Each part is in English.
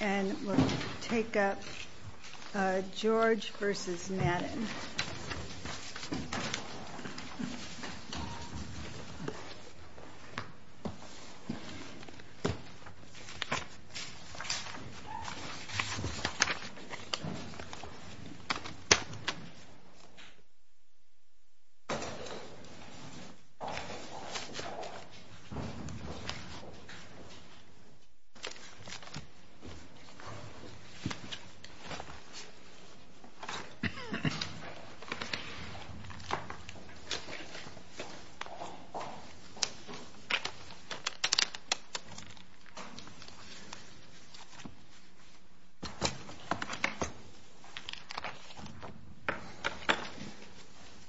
And we'll take up George v. Madden.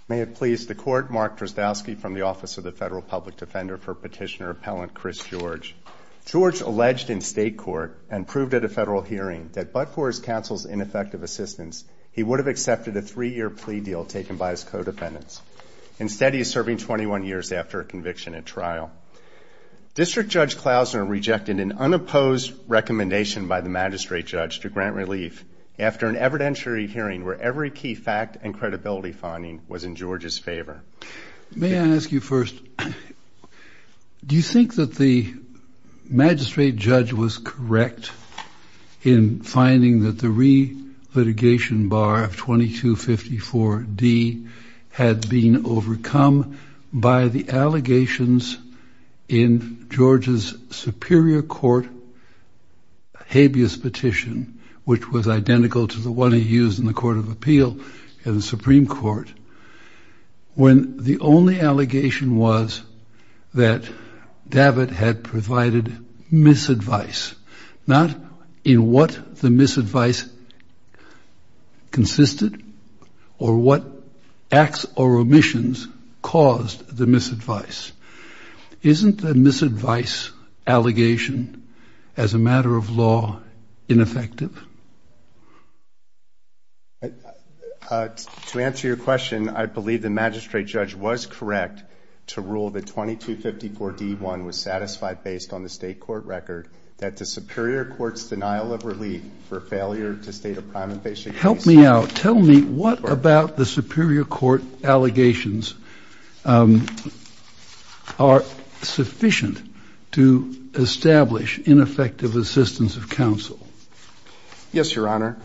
May it please the Court, Mark Drozdowski from the Office of the Federal Public Defender for Petitioner Appellant Chris George. George alleged in state court and proved at a federal hearing that but for his counsel's ineffective assistance, he would have accepted a three-year plea deal taken by his codependents. Instead, he is serving 21 years after a conviction at trial. District Judge Klausner rejected an unopposed recommendation by the magistrate judge to grant relief after an evidentiary hearing where every key fact and credibility finding was in George's favor. May I ask you first, do you think that the magistrate judge was correct in finding that the re-litigation bar of 2254 D had been overcome by the allegations in George's superior court habeas petition, which was identical to the one he used in the Court of Appeal in the Supreme Court, when the only allegation was that David had provided misadvice, not in what the misadvice consisted or what acts or omissions caused the misadvice? Isn't the misadvice allegation as a matter of law ineffective? To answer your question, I believe the magistrate judge was correct to rule that 2254 D1 was satisfied based on the state court record that the superior court's denial of relief for failure to state a prime invasive case. Help me out. Tell me what about the superior court allegations are sufficient to establish ineffective assistance of counsel? Yes, Your Honor.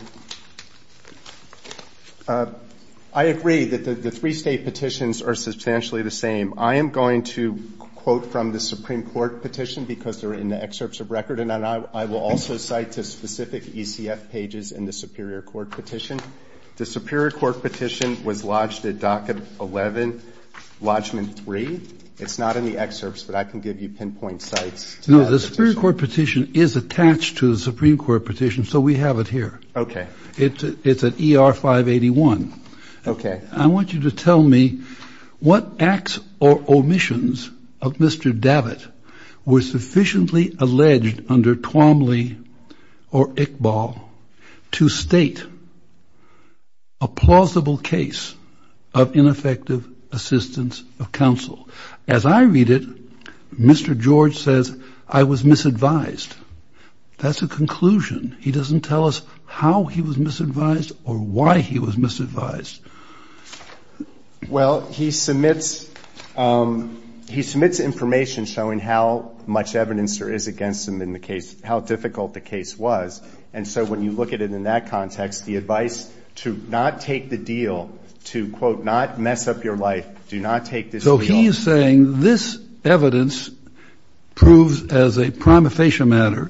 I agree that the three state petitions are substantially the same. I am going to quote from the Supreme Court petition, because they're in the excerpts of record, and I will also cite the specific ECF pages in the superior court petition. The superior court petition was lodged at Docket 11, Lodgeman 3. It's not in the excerpts, but I can give you pinpoint sites. No, the superior court petition is attached to the Supreme Court petition, so we have it here. Okay. It's at ER 581. Okay. I want you to tell me what acts or omissions of Mr. Davitt were sufficiently alleged under Twombly or Iqbal to state a plausible case of ineffective assistance of counsel? As I read it, Mr. George says, I was misadvised. That's a conclusion. He doesn't tell us how he was misadvised or why he was misadvised. Well, he submits information showing how much evidence there is against him in the case, how difficult the case was, and so when you look at it in that context, the advice to not take the deal, to, quote, not mess up your life, do not take this deal. So he is saying this evidence proves as a prima facie matter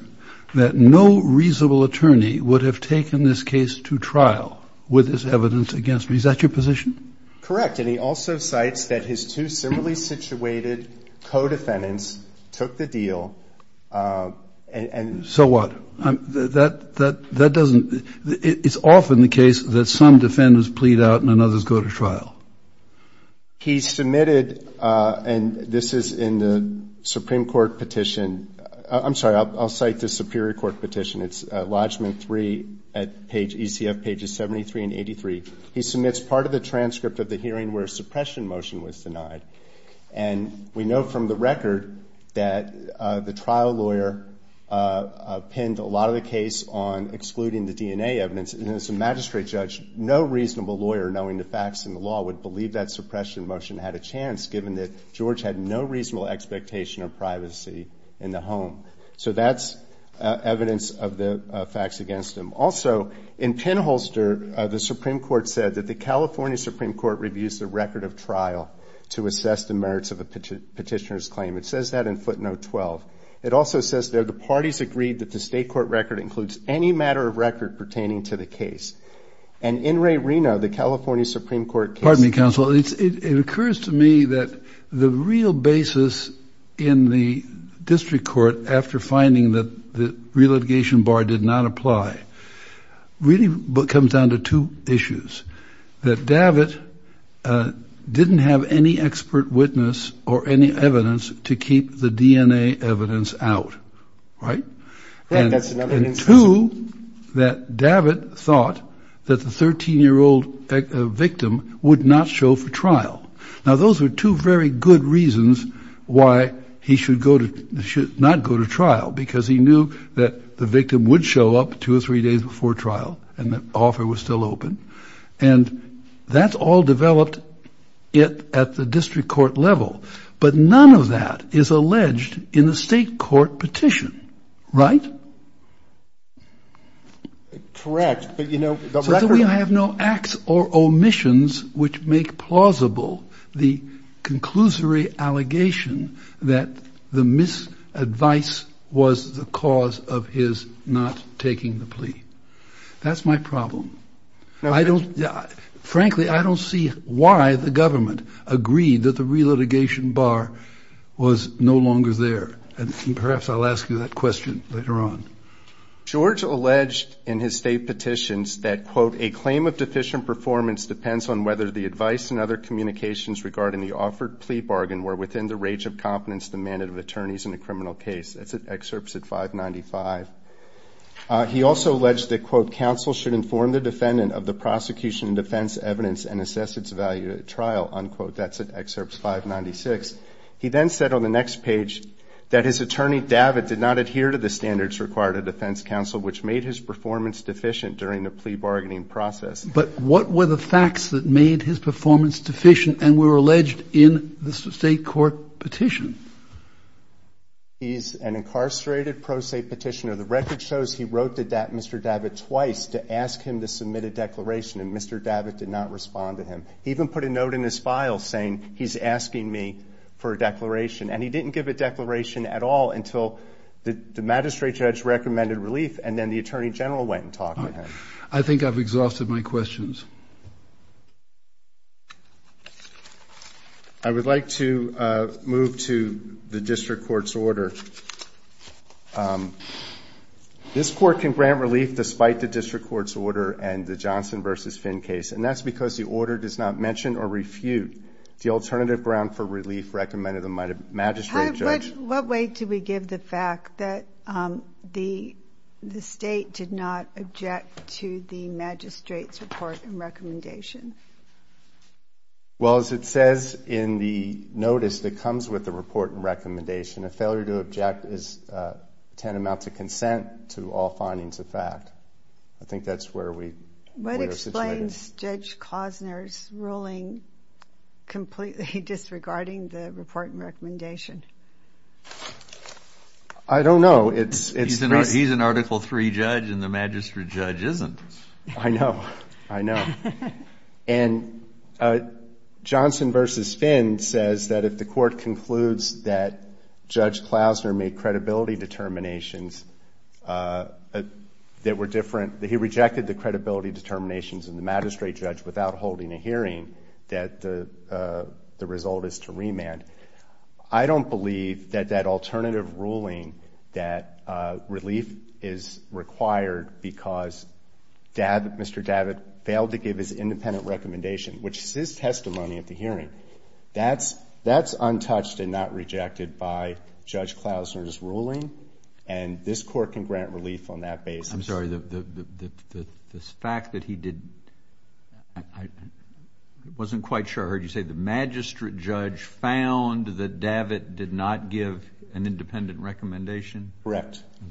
that no reasonable attorney would have taken this case to trial with this evidence against me. Is that your position? Correct. And he also cites that his two similarly situated co-defendants took the deal and. So what? That doesn't, it's often the case that some defendants plead out and others go to trial. He submitted, and this is in the Supreme Court petition, I'm sorry, I'll cite the Superior Court petition, it's Lodgeman 3 at page, ECF pages 73 and 83. He submits part of the transcript of the hearing where a suppression motion was denied, and we know from the record that the trial lawyer pinned a lot of the case on excluding the DNA evidence, and as a magistrate judge, no reasonable lawyer knowing the facts in the law would believe that suppression motion had a chance given that George had no reasonable expectation of privacy in the home. So that's evidence of the facts against him. Also, in pinholster, the Supreme Court said that the California Supreme Court reviews the record of trial to assess the merits of a petitioner's claim. It says that in footnote 12. It also says that the parties agreed that the state court record includes any matter of record pertaining to the case. And in Ray Reno, the California Supreme Court case. Pardon me, counsel. It occurs to me that the real basis in the district court, after finding that the relitigation bar did not apply, really comes down to two issues. That Davit didn't have any expert witness or any evidence to keep the DNA evidence out, right? Yeah, that's another instance. He knew that Davit thought that the 13-year-old victim would not show for trial. Now, those are two very good reasons why he should not go to trial, because he knew that the victim would show up two or three days before trial, and the offer was still open. And that's all developed at the district court level. But none of that is alleged in the state court petition, right? Correct. But, you know, the record... So we have no acts or omissions which make plausible the conclusory allegation that the misadvice was the cause of his not taking the plea. That's my problem. I don't, frankly, I don't see why the government agreed that the relitigation bar was no longer there. And perhaps I'll ask you that question later on. George alleged in his state petitions that, quote, a claim of deficient performance depends on whether the advice and other communications regarding the offered plea bargain were within the range of competence demanded of attorneys in a criminal case. That's at excerpts at 595. He also alleged that, quote, counsel should inform the defendant of the prosecution and defense evidence and assess its value at trial, unquote. That's at excerpts 596. He then said on the next page that his attorney, Davit, did not adhere to the standards required of defense counsel, which made his performance deficient during the plea bargaining process. But what were the facts that made his performance deficient and were alleged in the state court petition? He's an incarcerated pro-state petitioner. The record shows he wrote to Mr. Davit twice to ask him to submit a declaration and Mr. Davit did not respond to him. He even put a note in his file saying he's asking me for a declaration and he didn't give a declaration at all until the magistrate judge recommended relief and then the attorney general went and talked to him. I think I've exhausted my questions. I would like to move to the district court's order. This court can grant relief despite the district court's order and the Johnson v. Finn case and that's because the order does not mention or refute the alternative ground for relief recommended by the magistrate judge. What weight do we give the fact that the state did not object to the magistrate's report and recommendation? Well, as it says in the notice that comes with the report and recommendation, a failure to object is tantamount to consent to all findings of fact. I think that's where we are situated. What explains Judge Klausner's ruling completely disregarding the report and recommendation? I don't know. He's an Article III judge and the magistrate judge isn't. I know. I know. And Johnson v. Finn says that if the court concludes that Judge Klausner made credibility determinations that were different, that he rejected the credibility determinations of the magistrate judge without holding a hearing, that the result is to remand. I don't believe that that alternative ruling that relief is required because Mr. Davitt failed to give his independent recommendation, which is his testimony at the hearing. That's untouched and not rejected by Judge Klausner's ruling and this court can grant relief on that basis. I'm sorry, the fact that he didn't, I wasn't quite sure I heard you say that the magistrate judge found that Davitt did not give an independent recommendation? Okay.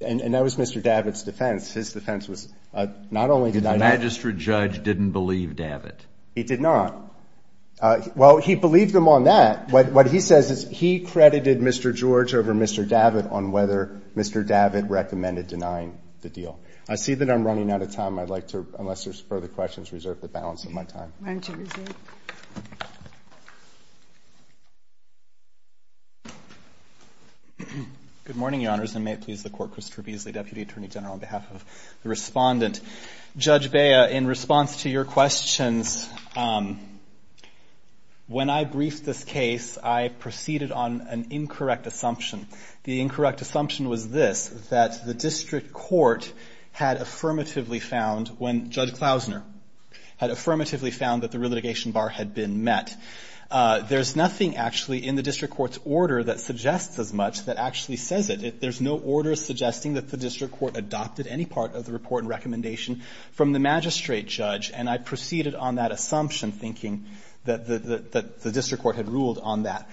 And that was Mr. Davitt's defense. His defense was not only did I not. The magistrate judge didn't believe Davitt. He did not. Well, he believed him on that. What he says is he credited Mr. George over Mr. Davitt on whether Mr. Davitt recommended denying the deal. I see that I'm running out of time. I'd like to, unless there's further questions, reserve the balance of my time. Why don't you reserve? Good morning, Your Honors, and may it please the Court. Christopher Beasley, Deputy Attorney General, on behalf of the respondent. Judge Bea, in response to your questions, when I briefed this case, I proceeded on an incorrect assumption. The incorrect assumption was this, that the district court had affirmatively found when Judge Klausner had affirmatively found that the relitigation bar had been met. There's nothing actually in the district court's order that suggests as much that actually says it. There's no order suggesting that the district court adopted any part of the report and recommendation from the magistrate judge, and I proceeded on that assumption, thinking that the district court had ruled on that.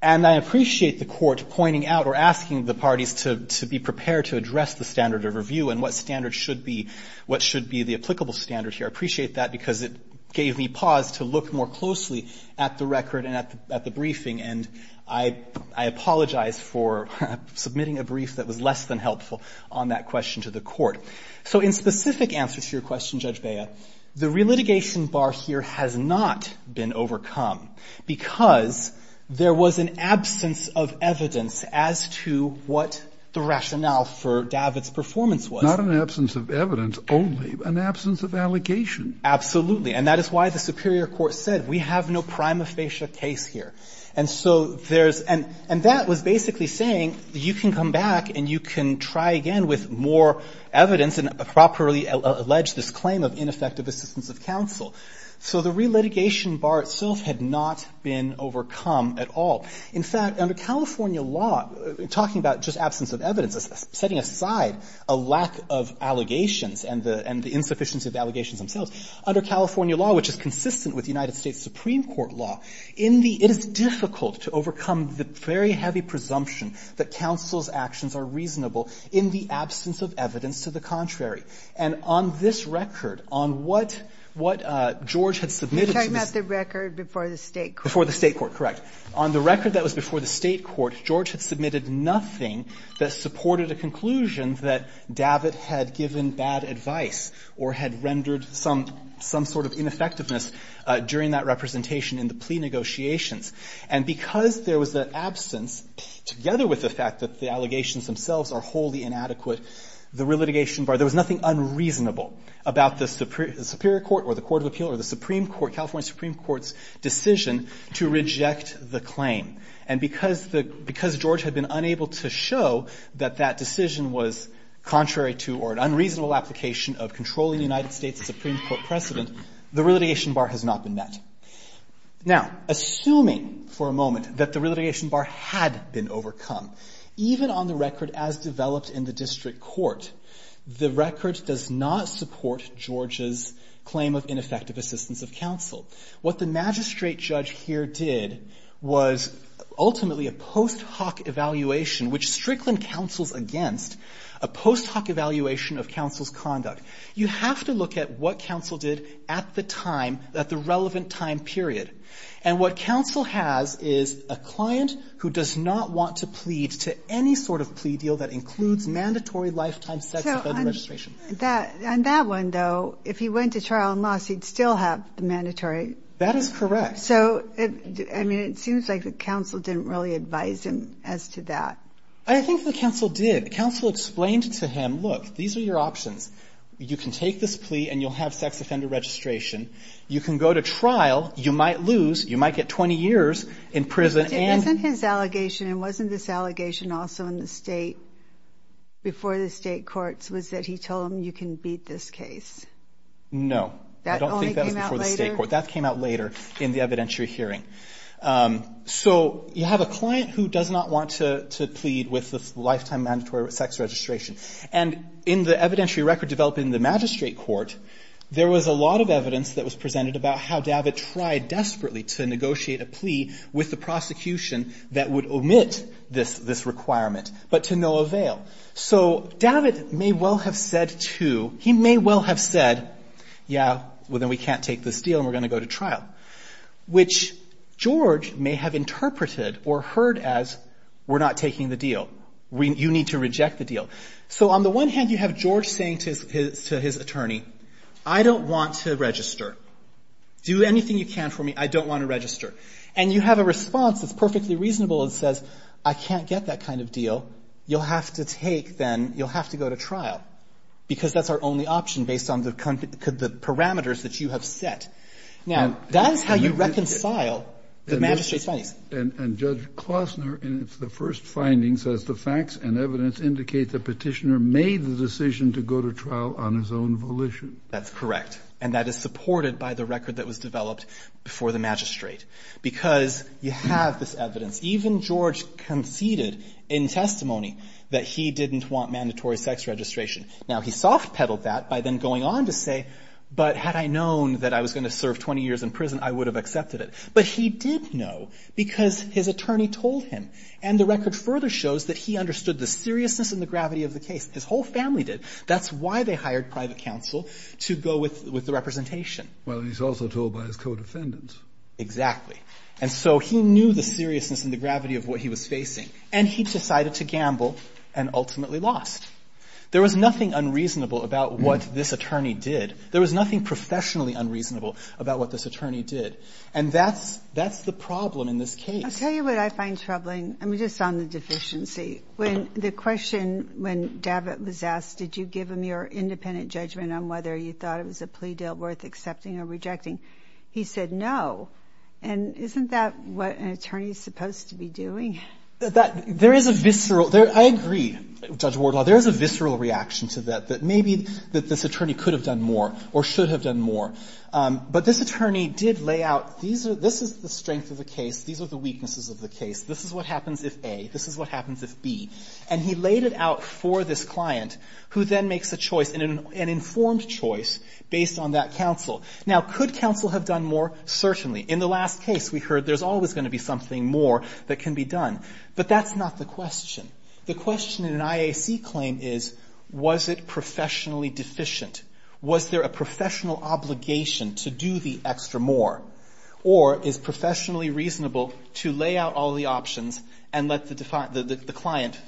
And I appreciate the court pointing out or asking the parties to be prepared to address the standard of review and what standard should be, what should be the applicable standard here. I appreciate that because it gave me pause to look more closely at the record and at the briefing, and I apologize for submitting a brief that was less than helpful on that question to the court. So in specific answer to your question, Judge Bea, the relitigation bar here has not been overcome because there was an absence of evidence as to what the rationale for Davit's performance was. Not an absence of evidence only, an absence of allegation. Absolutely. And that is why the superior court said, we have no prima facie case here. And so there's, and that was basically saying you can come back and you can try again with more evidence and properly allege this claim of ineffective assistance of counsel. So the relitigation bar itself had not been overcome at all. In fact, under California law, talking about just absence of evidence, setting aside a lack of allegations and the insufficiency of the allegations themselves, under California law, which is consistent with United States Supreme Court law, in the, it is difficult to overcome the very heavy presumption that counsel's actions are reasonable in the absence of evidence to the contrary. And on this record, on what, what George had submitted to the State. You're talking about the record before the State court. Before the State court, correct. On the record that was before the State court, George had submitted nothing that supported a conclusion that Davit had given bad advice or had rendered some, some sort of ineffectiveness during that representation in the plea negotiations. And because there was the absence, together with the fact that the allegations themselves are wholly inadequate, the relitigation bar, there was nothing unreasonable about the Superior Court or the Court of Appeal or the Supreme Court, California Supreme Court's decision to reject the claim. And because the, because George had been unable to show that that decision was contrary to or an unreasonable application of controlling the United States Supreme Court precedent, the relitigation bar has not been met. Now, assuming for a moment that the relitigation bar had been overcome, even on the record as developed in the district court, the record does not support George's claim of ineffective assistance of counsel. What the magistrate judge here did was ultimately a post hoc evaluation, which Strickland counsels against, a post hoc evaluation of counsel's conduct. You have to look at what counsel did at the time, at the relevant time period. And what counsel has is a client who does not want to plead to any sort of plea deal that includes mandatory lifetime sets of federal registration. So on that one, though, if he went to trial and lost, he'd still have the mandatory. That is correct. So, I mean, it seems like the counsel didn't really advise him as to that. I think the counsel did. The counsel explained to him, look, these are your options. You can take this plea and you'll have sex offender registration. You can go to trial. You might lose. You might get 20 years in prison. But wasn't his allegation, and wasn't this allegation also in the State, before the State courts, was that he told them you can beat this case? No. That only came out later? I don't think that was before the State court. That came out later in the evidentiary hearing. So you have a client who does not want to plead with the lifetime mandatory sex registration. And in the evidentiary record developed in the magistrate court, there was a lot of evidence that was presented about how David tried desperately to negotiate a plea with the prosecution that would omit this requirement, but to no avail. So David may well have said, too, he may well have said, yeah, well, then we can't take this deal and we're going to go to trial. Which George may have interpreted or heard as, we're not taking the deal. You need to reject the deal. So on the one hand, you have George saying to his attorney, I don't want to register. Do anything you can for me. I don't want to register. And you have a response that's perfectly reasonable and says, I can't get that kind of deal. You'll have to take, then, you'll have to go to trial because that's our only option based on the parameters that you have set. Now, that's how you reconcile the magistrate's findings. And Judge Klossner, in the first findings, says the facts and evidence indicate the petitioner made the decision to go to trial on his own volition. That's correct. And that is supported by the record that was developed before the magistrate because you have this evidence. Even George conceded in testimony that he didn't want mandatory sex registration. Now, he soft-pedaled that by then going on to say, but had I known that I was going to serve 20 years in prison, I would have accepted it. But he did know because his attorney told him. And the record further shows that he understood the seriousness and the gravity of the case. His whole family did. That's why they hired private counsel to go with the representation. Well, and he's also told by his co-defendants. Exactly. And so he knew the seriousness and the gravity of what he was facing, and he decided to gamble and ultimately lost. There was nothing unreasonable about what this attorney did. There was nothing professionally unreasonable about what this attorney did. And that's the problem in this case. I'll tell you what I find troubling. I mean, just on the deficiency. When the question, when Davit was asked, did you give him your independent judgment on whether you thought it was a plea deal worth accepting or rejecting, he said no. And isn't that what an attorney is supposed to be doing? There is a visceral – I agree, Judge Wardlaw. There is a visceral reaction to that, that maybe this attorney could have done more or should have done more. But this attorney did lay out, this is the strength of the case, these are the weaknesses of the case, this is what happens if A, this is what happens if B. And he laid it out for this client, who then makes a choice, an informed choice based on that counsel. Now, could counsel have done more? Certainly. In the last case, we heard there's always going to be something more that can be done. But that's not the question. The question in an IAC claim is, was it professionally deficient? Was there a professional obligation to do the extra more? Or is it professionally reasonable to lay out all the options and let the client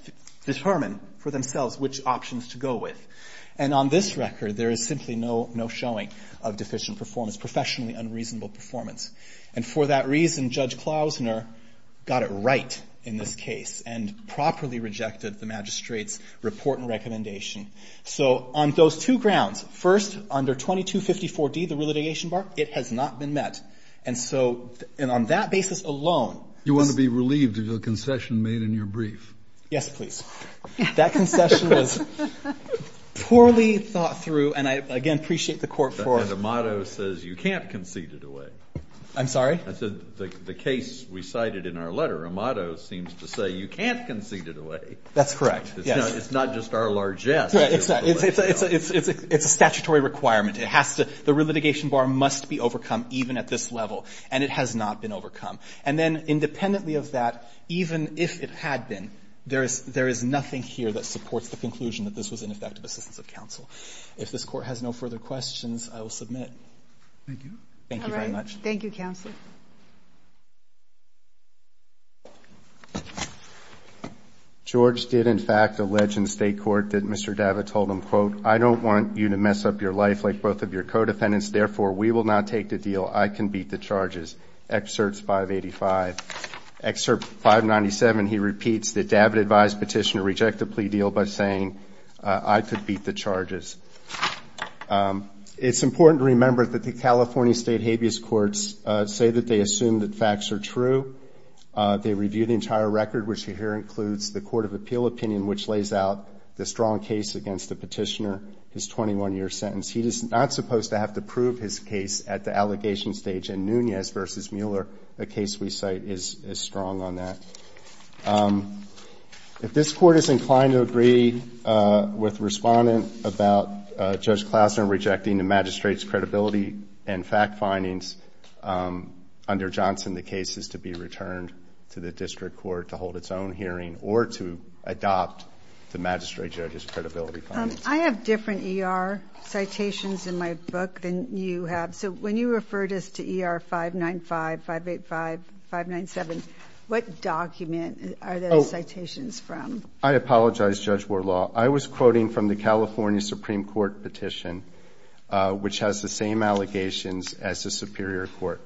determine for themselves which options to go with? And on this record, there is simply no showing of deficient performance, professionally unreasonable performance. And for that reason, Judge Klausner got it right in this case and properly rejected the magistrate's report and recommendation. So on those two grounds, first, under 2254D, the relitigation bar, it has not been met. And so on that basis alone. You want to be relieved of the concession made in your brief. Yes, please. That concession was poorly thought through. And I, again, appreciate the court for it. And Amato says you can't concede it away. I'm sorry? I said the case we cited in our letter, Amato seems to say you can't concede it away. That's correct. Yes. It's not just our largesse. It's a statutory requirement. The relitigation bar must be overcome even at this level. And it has not been overcome. And then independently of that, even if it had been, there is nothing here that supports the conclusion that this was ineffective assistance of counsel. If this Court has no further questions, I will submit. Thank you. Thank you very much. Thank you, Counsel. George did, in fact, allege in state court that Mr. Davit told him, quote, I don't want you to mess up your life like both of your co-defendants. Therefore, we will not take the deal. I can beat the charges. Excerpt 585. Excerpt 597, he repeats that Davit advised petitioner reject the plea deal by saying, I could beat the charges. It's important to remember that the California State Habeas Courts say that they assume that facts are true. They review the entire record, which here includes the Court of Appeal opinion, which lays out the strong case against the petitioner, his 21-year sentence. He is not supposed to have to prove his case at the allegation stage. In Nunez v. Mueller, the case we cite is strong on that. If this Court is inclined to agree with respondent about Judge Klausner rejecting the magistrate's credibility and fact findings under Johnson, the case is to be returned to the district court to hold its own hearing or to adopt the magistrate judge's credibility findings. I have different ER citations in my book than you have. So when you referred us to ER 595, 585, 597, what document are those citations from? I apologize, Judge Warlaw. I was quoting from the California Supreme Court petition, which has the same allegations as the Superior Court.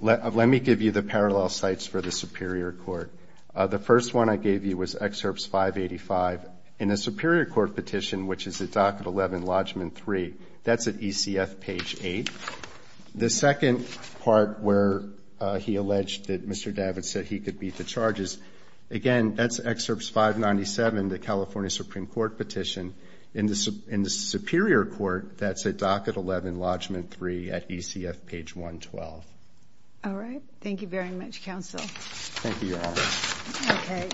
Let me give you the parallel sites for the Superior Court. The first one I gave you was excerpts 585. In the Superior Court petition, which is at Docket 11, Lodgeman 3, that's at ECF page 8. The second part where he alleged that Mr. Davids said he could beat the charges, again, that's excerpts 597, the California Supreme Court petition. In the Superior Court, that's at Docket 11, Lodgeman 3, at ECF page 112. All right. Thank you, Your Honor. Okay.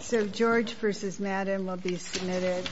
So George v. Madden will be submitted.